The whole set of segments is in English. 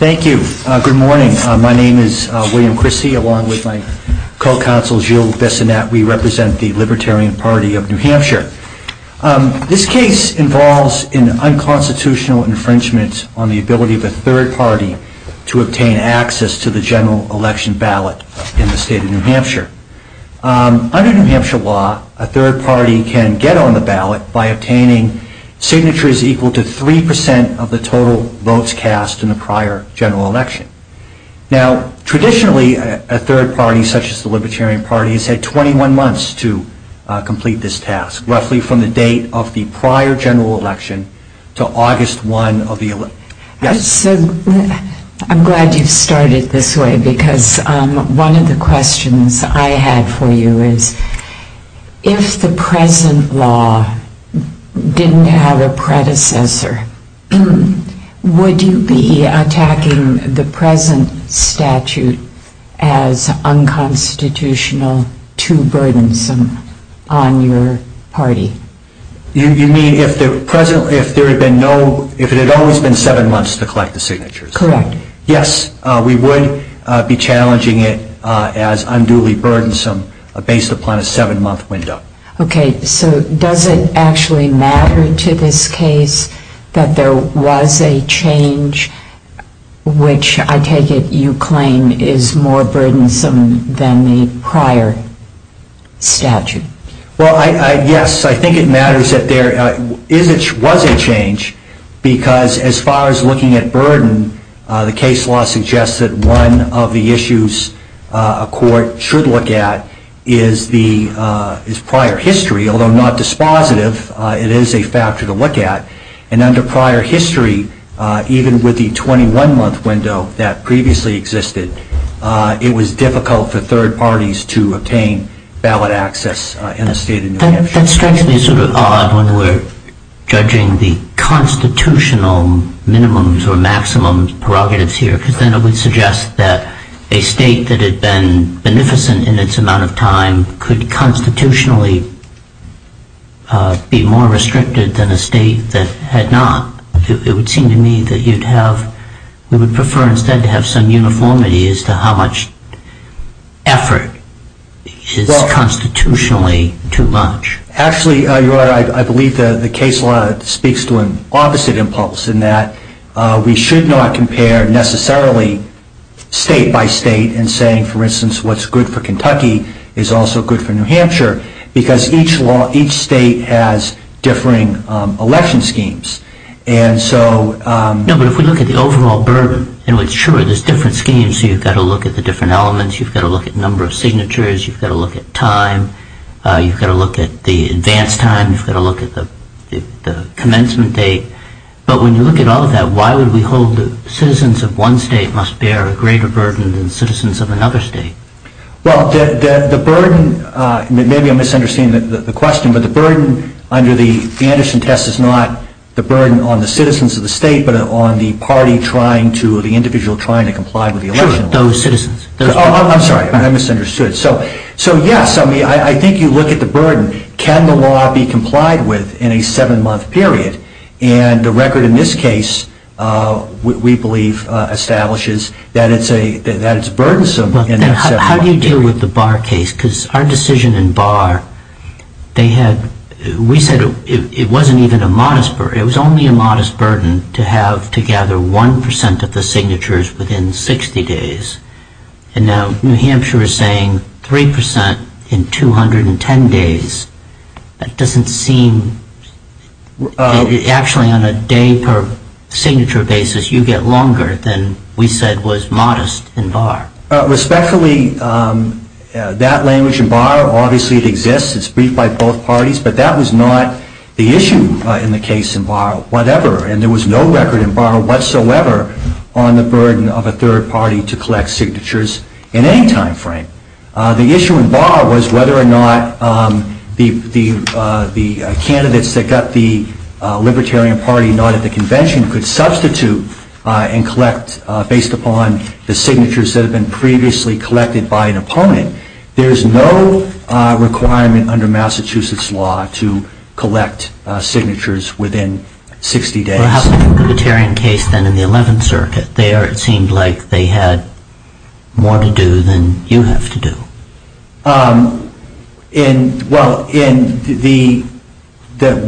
Thank you. Good morning. My name is William Christie, along with my co-counsel Jill Bessonette. We represent the Libertarian Party of NH. This case involves an unconstitutional infringement on the ability of a third party to obtain access to the general election ballot in the Under NH law, a third party can get on the ballot by obtaining signatures equal to 3% of the total votes cast in the prior general election. Traditionally, a third party, such as the Libertarian Party, has had 21 months to complete this task, roughly from the date of the prior general election to August 1 of the election. I'm glad you've started this way, because one of the questions I had for you is, if the present law didn't have a predecessor, would you be attacking the present statute as unconstitutional, too burdensome on your party? You mean, if there had always been 7 months to collect the signatures? Correct. Yes, we would be challenging it as unduly burdensome, based upon a 7-month window. Okay, so does it actually matter to this case that there was a change, which I take it you claim is more burdensome than the prior statute? Well, yes, I think it matters that there was a change, because as far as looking at burden, the case law suggests that one of the issues a court should look at is prior history. Although not dispositive, it is a factor to look at. And under prior history, even with the 21-month window that previously existed, it was difficult for third parties to obtain ballot access in a state in New Hampshire. That strikes me sort of odd when we're judging the constitutional minimums or maximum prerogatives here, because then it would suggest that a state that had been beneficent in its amount of time could constitutionally be more restricted than a state that had not. It would seem to me that you would prefer instead to have some uniformity as to how much effort is constitutionally too much. Actually, Your Honor, I believe the case law speaks to an opposite impulse, in that we should not compare necessarily state by state in saying, for instance, what's good for Kentucky is also good for New Hampshire, because each state has differing election schemes. No, but if we look at the overall burden, sure, there's different schemes, so you've got to look at the different elements. You've got to look at number of signatures. You've got to look at time. You've got to look at the advance time. You've got to look at the commencement date. But when you look at all of that, why would we hold that citizens of one state must bear a greater burden than citizens of another state? Well, the burden, maybe I'm misunderstanding the question, but the burden under the Anderson test is not the burden on the citizens of the state, but on the party trying to, the individual trying to comply with the election law. Sure, those citizens. I'm sorry, I misunderstood. So yes, I think you look at the burden. Can the law be complied with in a seven-month period? And the record in this case, we believe, establishes that it's burdensome in that sense. How do you deal with the Barr case? Because our decision in Barr, they had, we said it wasn't even a modest burden. It was only a modest burden to have to gather 1% of the signatures within 60 days. And now New Hampshire is saying 3% in 210 days. That doesn't seem, actually on a day per signature basis, you get longer than we said was modest in Barr. Respectfully, that language in Barr, obviously it exists. It's briefed by both parties. But that was not the issue in the case in Barr, whatever. And there was no record in Barr whatsoever on the burden of a third party to collect signatures in any time frame. The issue in Barr was whether or not the candidates that got the Libertarian Party not at the convention could substitute and collect based upon the signatures that had been previously collected by an opponent. There is no requirement under Massachusetts law to collect signatures within 60 days. Well, how about the Libertarian case then in the 11th Circuit? There it seemed like they had more to do than you have to do. Well,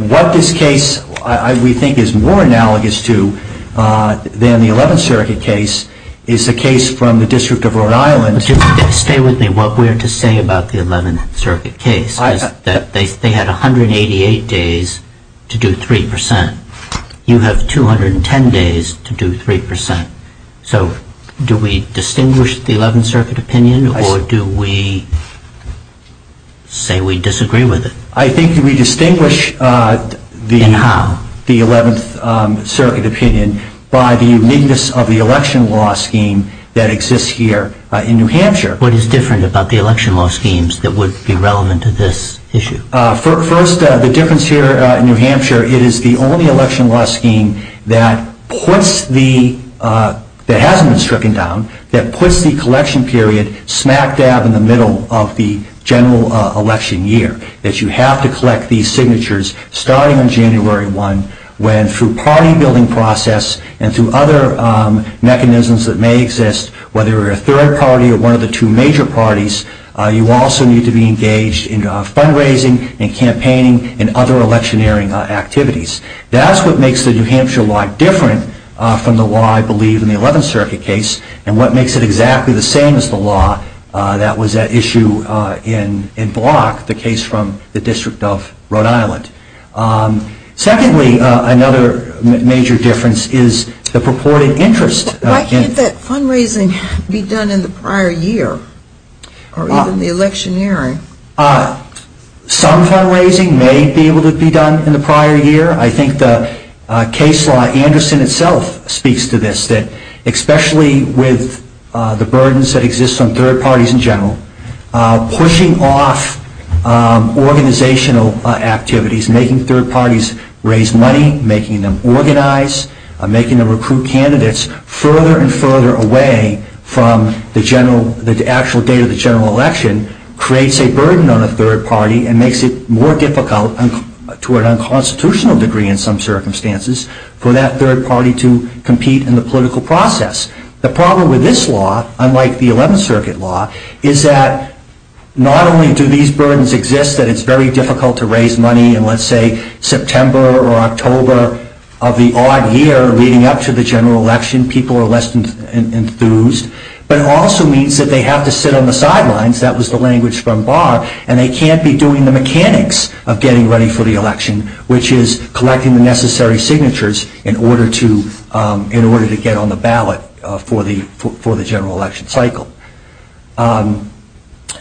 what this case, we think, is more analogous to than the 11th Circuit case is the case from the District of Rhode Island. Stay with me. What we're to say about the 11th Circuit case is that they had 188 days to do 3%. You have 210 days to do 3%. So do we distinguish the 11th Circuit opinion or do we say we disagree with it? I think we distinguish the 11th Circuit opinion by the uniqueness of the election law scheme that exists here in New Hampshire. What is different about the election law schemes that would be relevant to this issue? First, the difference here in New Hampshire, it is the only election law scheme that hasn't been stricken down that puts the collection period smack dab in the middle of the general election year, that you have to collect these signatures starting on January 1, when through party building process and through other mechanisms that may exist, whether you're a third party or one of the two major parties, you also need to be engaged in fundraising and campaigning and other electioneering activities. That's what makes the New Hampshire law different from the law, I believe, in the 11th Circuit case and what makes it exactly the same as the law that was at issue in Block, the case from the District of Rhode Island. Secondly, another major difference is the purported interest. Why can't that fundraising be done in the prior year or even the electioneering? Some fundraising may be able to be done in the prior year. I think the case law, Anderson itself, speaks to this, that especially with the burdens that exist on third parties in general, pushing off organizational activities, making third parties raise money, making them organize, making them recruit candidates further and further away from the actual date of the general election, creates a burden on a third party and makes it more difficult to an unconstitutional degree in some circumstances for that third party to compete in the political process. The problem with this law, unlike the 11th Circuit law, is that not only do these burdens exist, that it's very difficult to raise money in, let's say, September or October of the odd year leading up to the general election. People are less enthused. But it also means that they have to sit on the sidelines. That was the language from Barr. And they can't be doing the mechanics of getting ready for the election, which is collecting the necessary signatures in order to get on the ballot for the general election cycle. So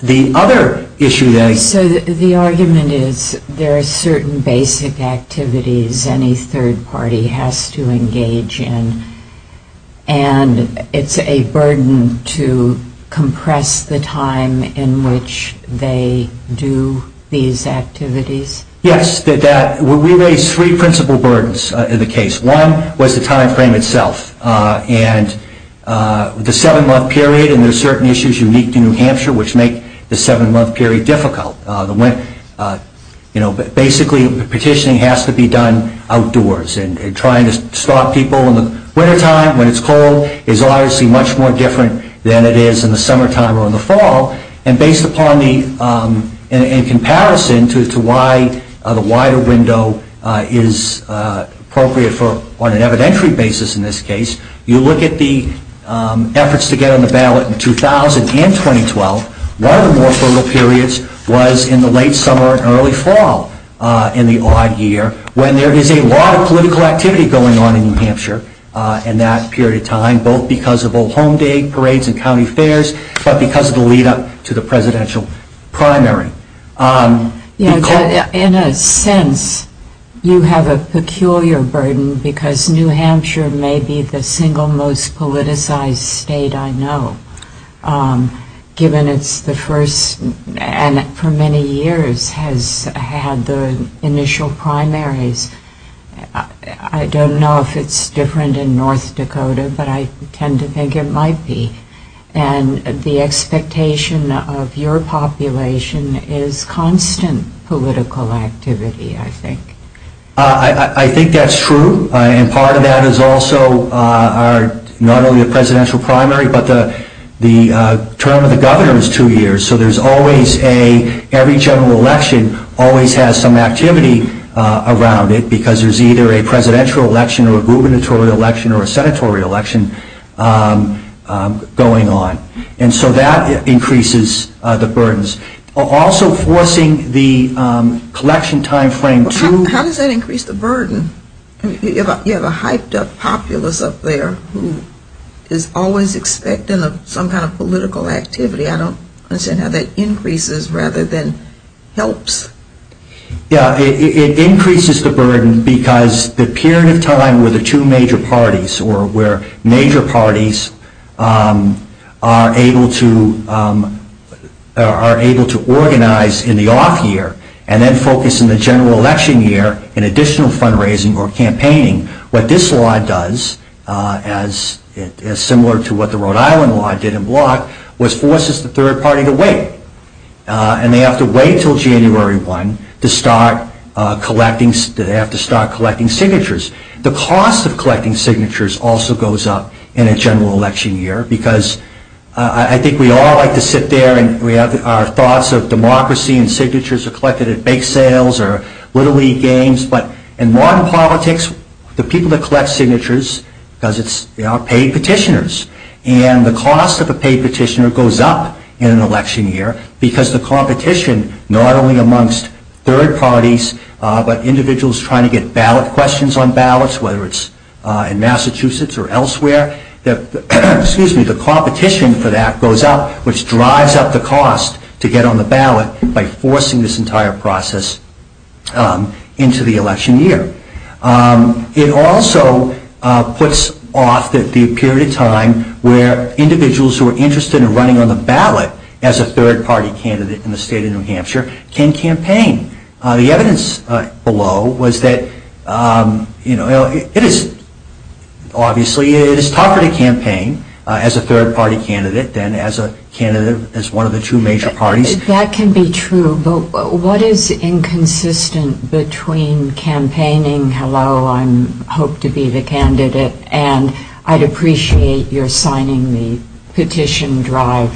the other issue that I... So the argument is there are certain basic activities any third party has to engage in, and it's a burden to compress the time in which they do these activities? Yes. We raised three principal burdens in the case. One was the time frame itself. And the seven-month period, and there are certain issues unique to New Hampshire which make the seven-month period difficult. Basically, petitioning has to be done outdoors, and trying to stop people in the wintertime when it's cold is obviously much more different than it is in the summertime or in the fall. And based upon the... to why the wider window is appropriate on an evidentiary basis in this case, you look at the efforts to get on the ballot in 2000 and 2012. One of the more frugal periods was in the late summer and early fall in the odd year when there is a lot of political activity going on in New Hampshire in that period of time, both because of old home day parades and county fairs, but because of the lead-up to the presidential primary. In a sense, you have a peculiar burden because New Hampshire may be the single most politicized state I know, given it's the first and for many years has had the initial primaries. I don't know if it's different in North Dakota, but I tend to think it might be. And the expectation of your population is constant political activity, I think. I think that's true. And part of that is also not only the presidential primary, but the term of the governor is two years. So there's always a... every general election always has some activity around it because there's either a presidential election or a gubernatorial election or a senatorial election going on. And so that increases the burdens. Also forcing the collection time frame to... How does that increase the burden? You have a hyped-up populace up there who is always expecting some kind of political activity. I don't understand how that increases rather than helps. Yeah, it increases the burden because the period of time where the two major parties or where major parties are able to organize in the off year and then focus in the general election year in additional fundraising or campaigning, what this law does, as similar to what the Rhode Island law did in block, was forces the third party to wait. And they have to wait until January 1 to start collecting signatures. The cost of collecting signatures also goes up in a general election year because I think we all like to sit there and our thoughts of democracy and signatures are collected at bake sales or little league games. But in modern politics, the people that collect signatures are paid petitioners. And the cost of a paid petitioner goes up in an election year because the competition not only amongst third parties but individuals trying to get ballot questions on ballots, whether it's in Massachusetts or elsewhere, the competition for that goes up, which drives up the cost to get on the ballot by forcing this entire process into the election year. It also puts off the period of time where individuals who are interested in running on the ballot as a third party candidate in the state of New Hampshire can campaign. The evidence below was that it is obviously tougher to campaign as a third party candidate than as a candidate as one of the two major parties. That can be true, but what is inconsistent between campaigning, hello, I hope to be the candidate, and I'd appreciate your signing the petition drive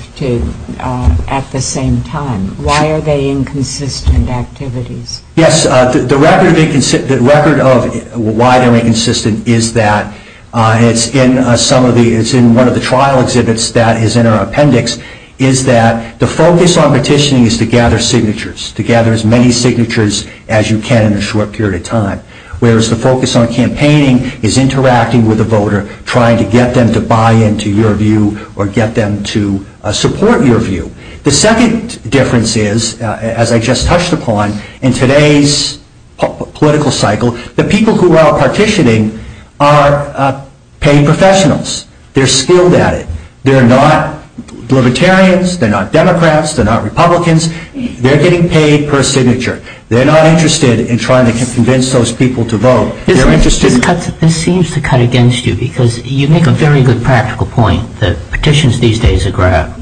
at the same time. Why are they inconsistent activities? Yes, the record of why they're inconsistent is that it's in one of the trial exhibits that is in our appendix is that the focus on petitioning is to gather signatures, to gather as many signatures as you can in a short period of time, whereas the focus on campaigning is interacting with the voter, trying to get them to buy into your view or get them to support your view. The second difference is, as I just touched upon, in today's political cycle, the people who are partitioning are paid professionals. They're skilled at it. They're not libertarians. They're not Democrats. They're not Republicans. They're getting paid per signature. They're not interested in trying to convince those people to vote. This seems to cut against you because you make a very good practical point that petitions these days are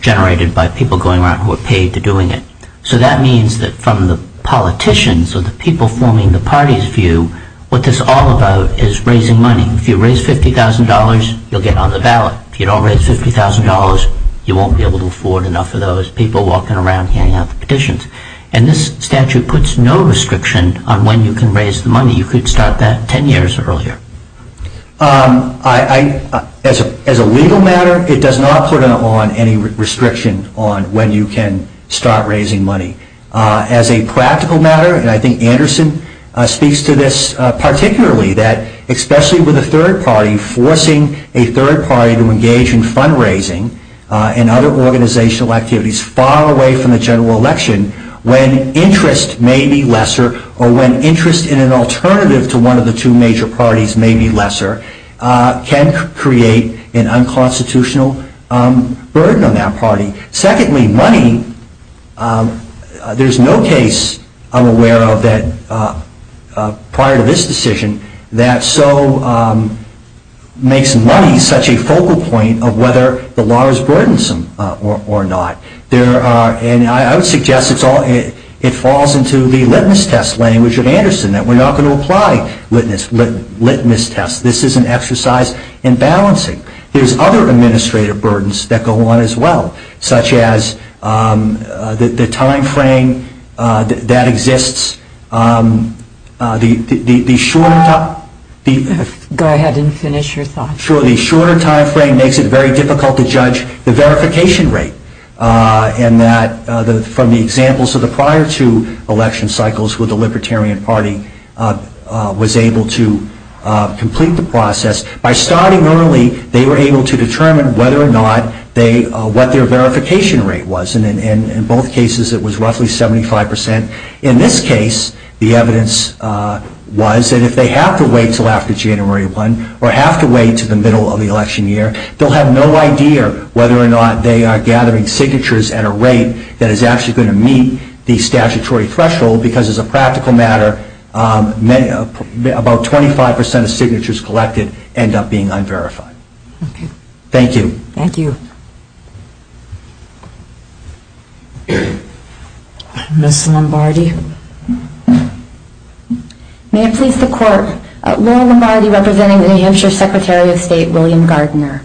generated by people going around who are paid to doing it. So that means that from the politicians or the people forming the party's view, what this is all about is raising money. If you raise $50,000, you'll get on the ballot. If you don't raise $50,000, you won't be able to afford enough of those people walking around handing out the petitions. And this statute puts no restriction on when you can raise the money. You could start that 10 years earlier. As a legal matter, it does not put on any restriction on when you can start raising money. As a practical matter, and I think Anderson speaks to this particularly, that especially with a third party, forcing a third party to engage in fundraising and other organizational activities far away from the general election, when interest may be lesser or when interest in an alternative to one of the two major parties may be lesser, can create an unconstitutional burden on that party. Secondly, money, there's no case I'm aware of prior to this decision that makes money such a focal point of whether the law is burdensome or not. I would suggest it falls into the litmus test language of Anderson, that we're not going to apply litmus tests. This is an exercise in balancing. There's other administrative burdens that go on as well, such as the time frame that exists. The shorter time frame makes it very difficult to judge the verification rate. And that from the examples of the prior two election cycles when the Libertarian Party was able to complete the process, by starting early, they were able to determine whether or not what their verification rate was, and in both cases it was roughly 75%. In this case, the evidence was that if they have to wait until after January 1 or have to wait until the middle of the election year, they'll have no idea whether or not they are gathering signatures at a rate that is actually going to meet the statutory threshold, because as a practical matter, about 25% of signatures collected end up being unverified. Thank you. Thank you. Ms. Lombardi. May it please the Court, Laura Lombardi representing the New Hampshire Secretary of State, William Gardner.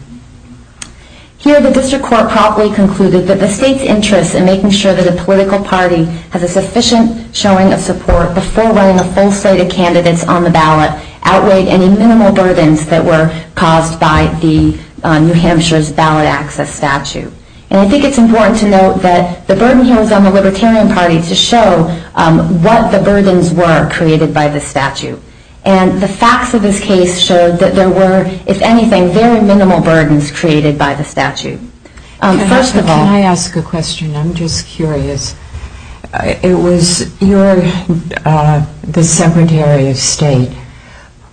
Here, the District Court promptly concluded that the State's interest in making sure that a political party has a sufficient showing of support before running a full slate of candidates on the ballot would not outweigh any minimal burdens that were caused by the New Hampshire's ballot access statute. And I think it's important to note that the burden here was on the Libertarian Party to show what the burdens were created by the statute. And the facts of this case showed that there were, if anything, very minimal burdens created by the statute. First of all... Can I ask a question? I'm just curious. It was your, the Secretary of State,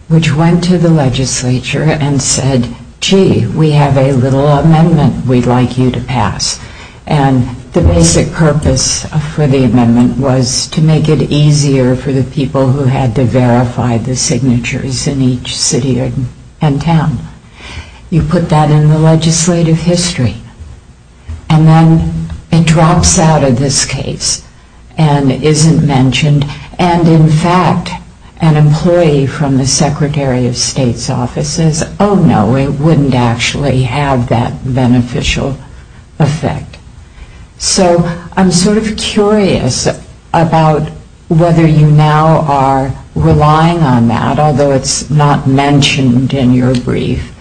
which went to the legislature and said, gee, we have a little amendment we'd like you to pass. And the basic purpose for the amendment was to make it easier for the people who had to verify the signatures in each city and town. You put that in the legislative history. And then it drops out of this case and isn't mentioned. And in fact, an employee from the Secretary of State's office says, oh, no, it wouldn't actually have that beneficial effect. So I'm sort of curious about whether you now are relying on that, although it's not mentioned in your brief,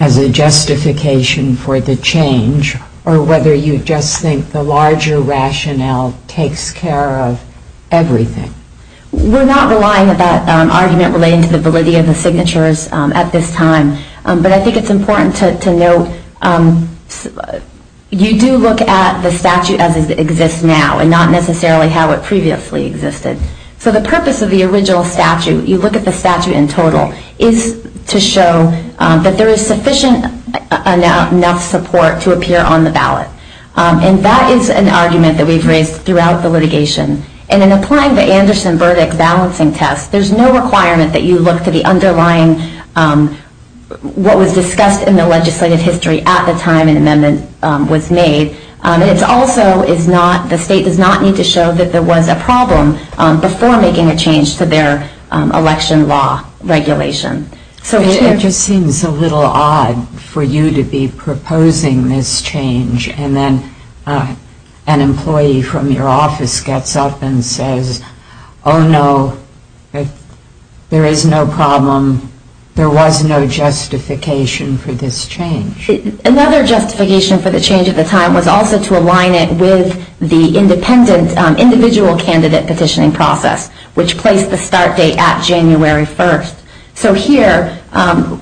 as a justification for the change, or whether you just think the larger rationale takes care of everything. We're not relying on that argument relating to the validity of the signatures at this time. But I think it's important to note you do look at the statute as it exists now and not necessarily how it previously existed. So the purpose of the original statute, you look at the statute in total, is to show that there is sufficient enough support to appear on the ballot. And that is an argument that we've raised throughout the litigation. And in applying the Anderson verdict balancing test, there's no requirement that you look to the underlying what was discussed in the legislative history at the time an amendment was made. It also is not, the state does not need to show that there was a problem before making a change to their election law regulation. It just seems a little odd for you to be proposing this change and then an employee from your office gets up and says, oh no, there is no problem, there was no justification for this change. Another justification for the change at the time was also to align it with the independent individual candidate petitioning process, which placed the start date at January 1st. So here,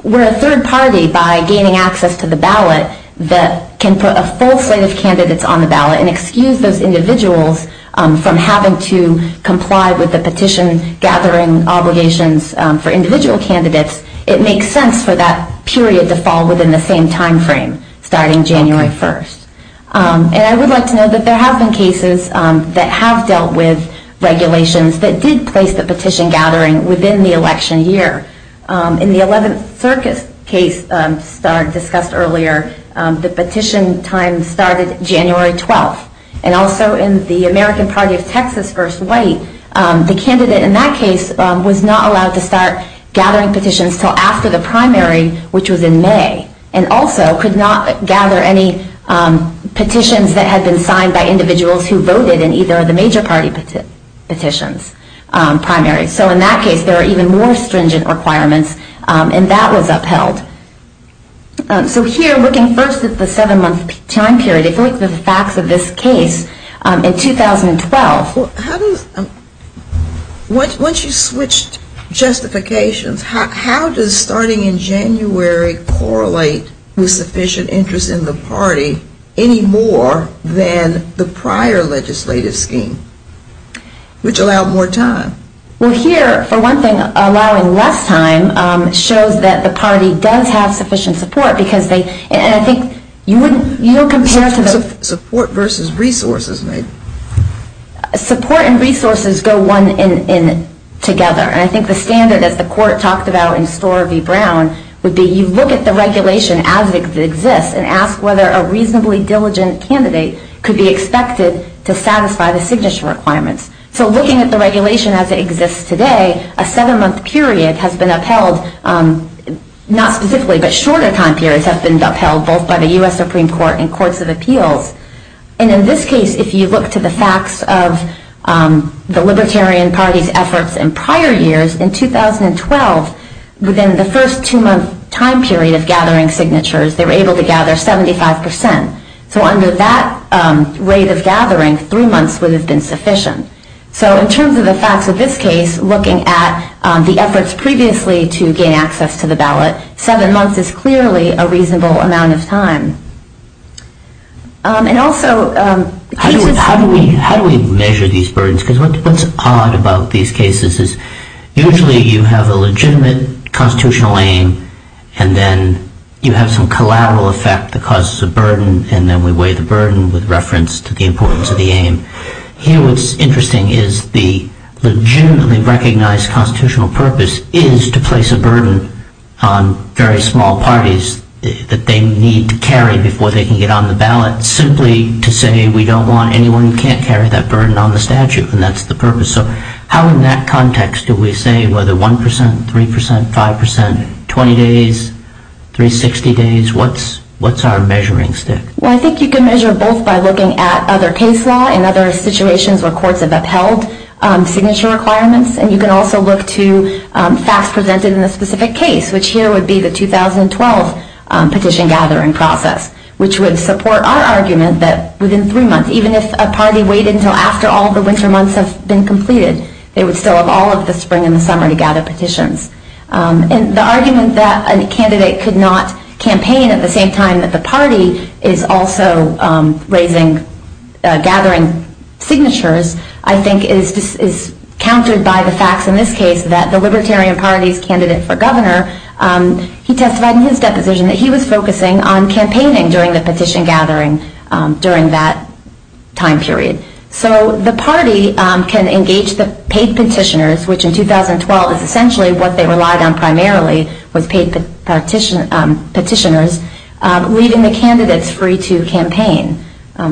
we're a third party by gaining access to the ballot that can put a full slate of candidates on the ballot and excuse those individuals from having to comply with the petition gathering obligations for individual candidates. It makes sense for that period to fall within the same time frame, starting January 1st. And I would like to note that there have been cases that have dealt with regulations that did place the petition gathering within the election year. In the 11th Circus case discussed earlier, the petition time started January 12th. And also in the American Party of Texas v. White, the candidate in that case was not allowed to start gathering petitions until after the primary, which was in May, and also could not gather any petitions that had been signed by individuals who voted in either of the major party petitions, primaries. So in that case, there were even more stringent requirements, and that was upheld. So here, looking first at the seven-month time period, if you look at the facts of this case in 2012. Once you switched justifications, how does starting in January correlate with sufficient interest in the party any more than the prior legislative scheme, which allowed more time? Well, here, for one thing, allowing less time shows that the party does have sufficient support because they, and I think you would compare to the Support versus resources, maybe. Support and resources go one and together. And I think the standard, as the court talked about in Storer v. Brown, would be you look at the regulation as it exists and ask whether a reasonably diligent candidate could be expected to satisfy the signature requirements. So looking at the regulation as it exists today, a seven-month period has been upheld, not specifically, but shorter time periods have been upheld, And in this case, if you look to the facts of the Libertarian Party's efforts in prior years, in 2012, within the first two-month time period of gathering signatures, they were able to gather 75%. So under that rate of gathering, three months would have been sufficient. So in terms of the facts of this case, looking at the efforts previously to gain access to the ballot, seven months is clearly a reasonable amount of time. And also... How do we measure these burdens? Because what's odd about these cases is usually you have a legitimate constitutional aim, and then you have some collateral effect that causes a burden, and then we weigh the burden with reference to the importance of the aim. Here what's interesting is the legitimately recognized constitutional purpose is to place a burden on very small parties that they need to carry before they can get on the ballot, simply to say we don't want anyone who can't carry that burden on the statute, and that's the purpose. So how in that context do we say whether 1%, 3%, 5%, 20 days, 360 days, what's our measuring stick? Well, I think you can measure both by looking at other case law and other situations where courts have upheld signature requirements, and you can also look to facts presented in the specific case, which here would be the 2012 petition gathering process, which would support our argument that within three months, even if a party waited until after all the winter months have been completed, they would still have all of the spring and the summer to gather petitions. And the argument that a candidate could not campaign at the same time that the party is also raising, gathering signatures, I think is countered by the facts in this case that the Libertarian Party's candidate for governor, he was focusing on campaigning during the petition gathering during that time period. So the party can engage the paid petitioners, which in 2012 is essentially what they relied on primarily, was paid petitioners, leaving the candidates free to campaign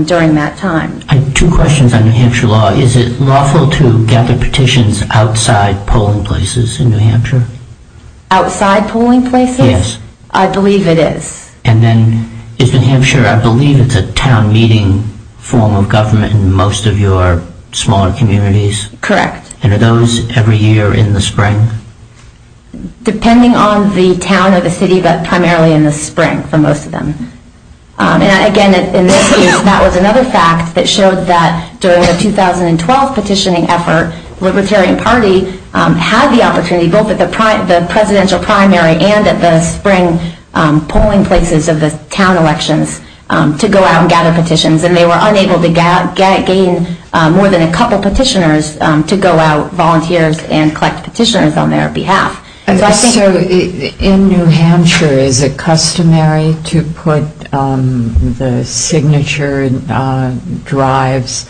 during that time. I have two questions on New Hampshire law. Is it lawful to gather petitions outside polling places in New Hampshire? Outside polling places? Yes. I believe it is. And then is New Hampshire, I believe it's a town meeting form of government in most of your smaller communities? Correct. And are those every year in the spring? Depending on the town or the city, but primarily in the spring for most of them. And again, in this case, that was another fact that showed that during the 2012 petitioning effort, the Libertarian Party had the opportunity, both at the presidential primary and at the spring polling places of the town elections, to go out and gather petitions. And they were unable to gain more than a couple petitioners to go out, volunteers, and collect petitioners on their behalf. So in New Hampshire, is it customary to put the signature drives,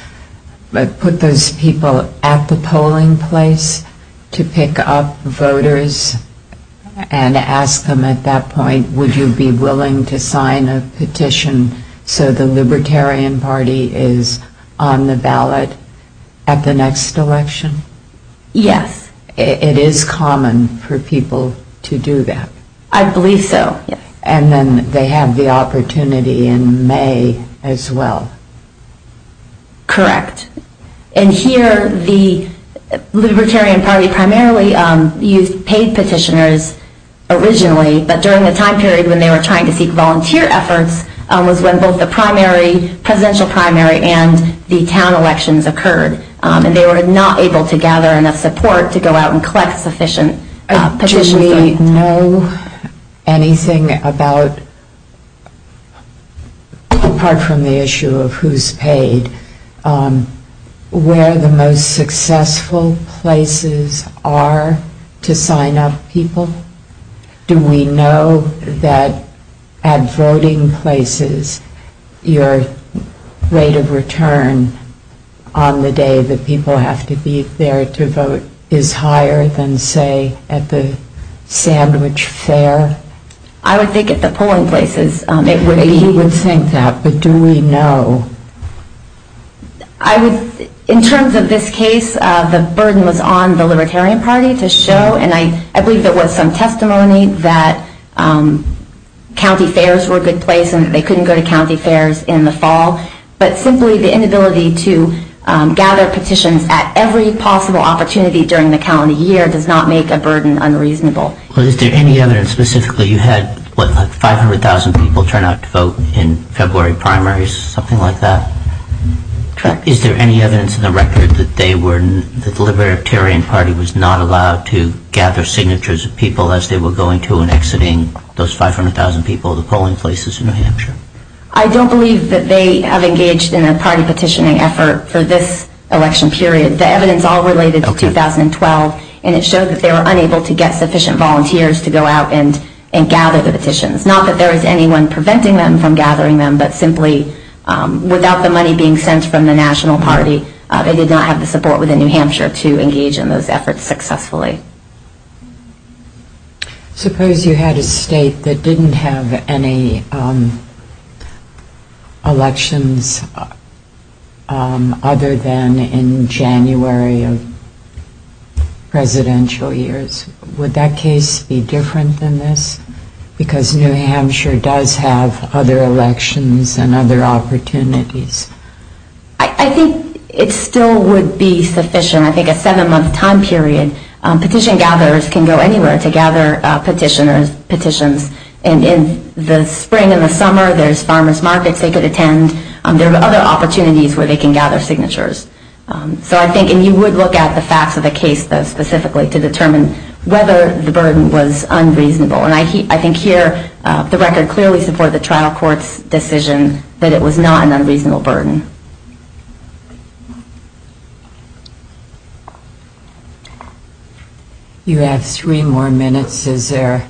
put those people at the polling place to pick up voters and ask them at that point, would you be willing to sign a petition so the Libertarian Party is on the ballot at the next election? Yes. It is common for people to do that? I believe so, yes. And then they have the opportunity in May as well? Correct. And here, the Libertarian Party primarily used paid petitioners originally, but during the time period when they were trying to seek volunteer efforts was when both the presidential primary and the town elections occurred. And they were not able to gather enough support to go out and collect sufficient petitioners. Do we know anything about, apart from the issue of who is paid, where the most successful places are to sign up people? Do we know that at voting places, your rate of return on the day that you get a vote is not as high as it would be at a sandwich fair? I would think at the polling places it would be. He would think that, but do we know? In terms of this case, the burden was on the Libertarian Party to show, and I believe there was some testimony that county fairs were a good place and that they couldn't go to county fairs in the fall. But simply the inability to gather petitions at every possible opportunity during the county year does not make a burden unreasonable. Is there any evidence specifically you had 500,000 people turn out to vote in February primaries, something like that? Correct. Is there any evidence in the record that the Libertarian Party was not allowed to gather signatures of people as they were going to and exiting those 500,000 people at the polling places in New Hampshire? I don't believe that they have engaged in a party petitioning effort for this election period. The evidence all related to 2012, and it showed that they were unable to get sufficient volunteers to go out and gather the petitions. Not that there was anyone preventing them from gathering them, but simply without the money being sent from the national party, they did not have the support within New Hampshire to engage in those efforts successfully. Suppose you had a state that didn't have any elections other than in January of presidential years. Would that case be different than this? Because New Hampshire does have other elections and other opportunities. I think it still would be sufficient. I think a seven-month time period, petition gatherers can go anywhere to gather petitions. In the spring and the summer, there's farmer's markets they could attend. There are other opportunities where they can gather signatures. You would look at the facts of the case, though, specifically, to determine whether the burden was unreasonable. I think here the record clearly supports the trial court's decision that it was not an unreasonable burden. You have three more minutes. Is there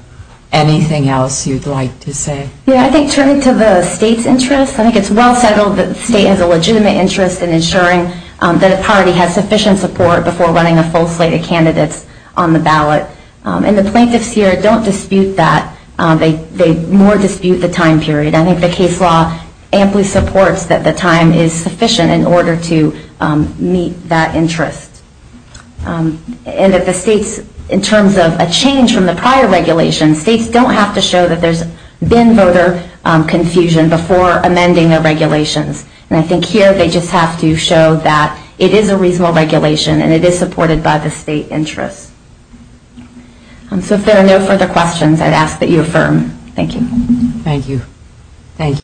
anything else you'd like to say? Yeah, I think turning to the state's interest, I think it's well settled that the state has a legitimate interest in ensuring that a party has sufficient support before running a full slate of candidates on the ballot. And the plaintiffs here don't dispute that. They more dispute the time period. I think the case law amply supports that the time is more important than the time is sufficient in order to meet that interest. And that the states, in terms of a change from the prior regulation, states don't have to show that there's been voter confusion before amending their regulations. And I think here they just have to show that it is a reasonable regulation and it is supported by the state interest. So if there are no further questions, I'd ask that you affirm. Thank you. Thank you.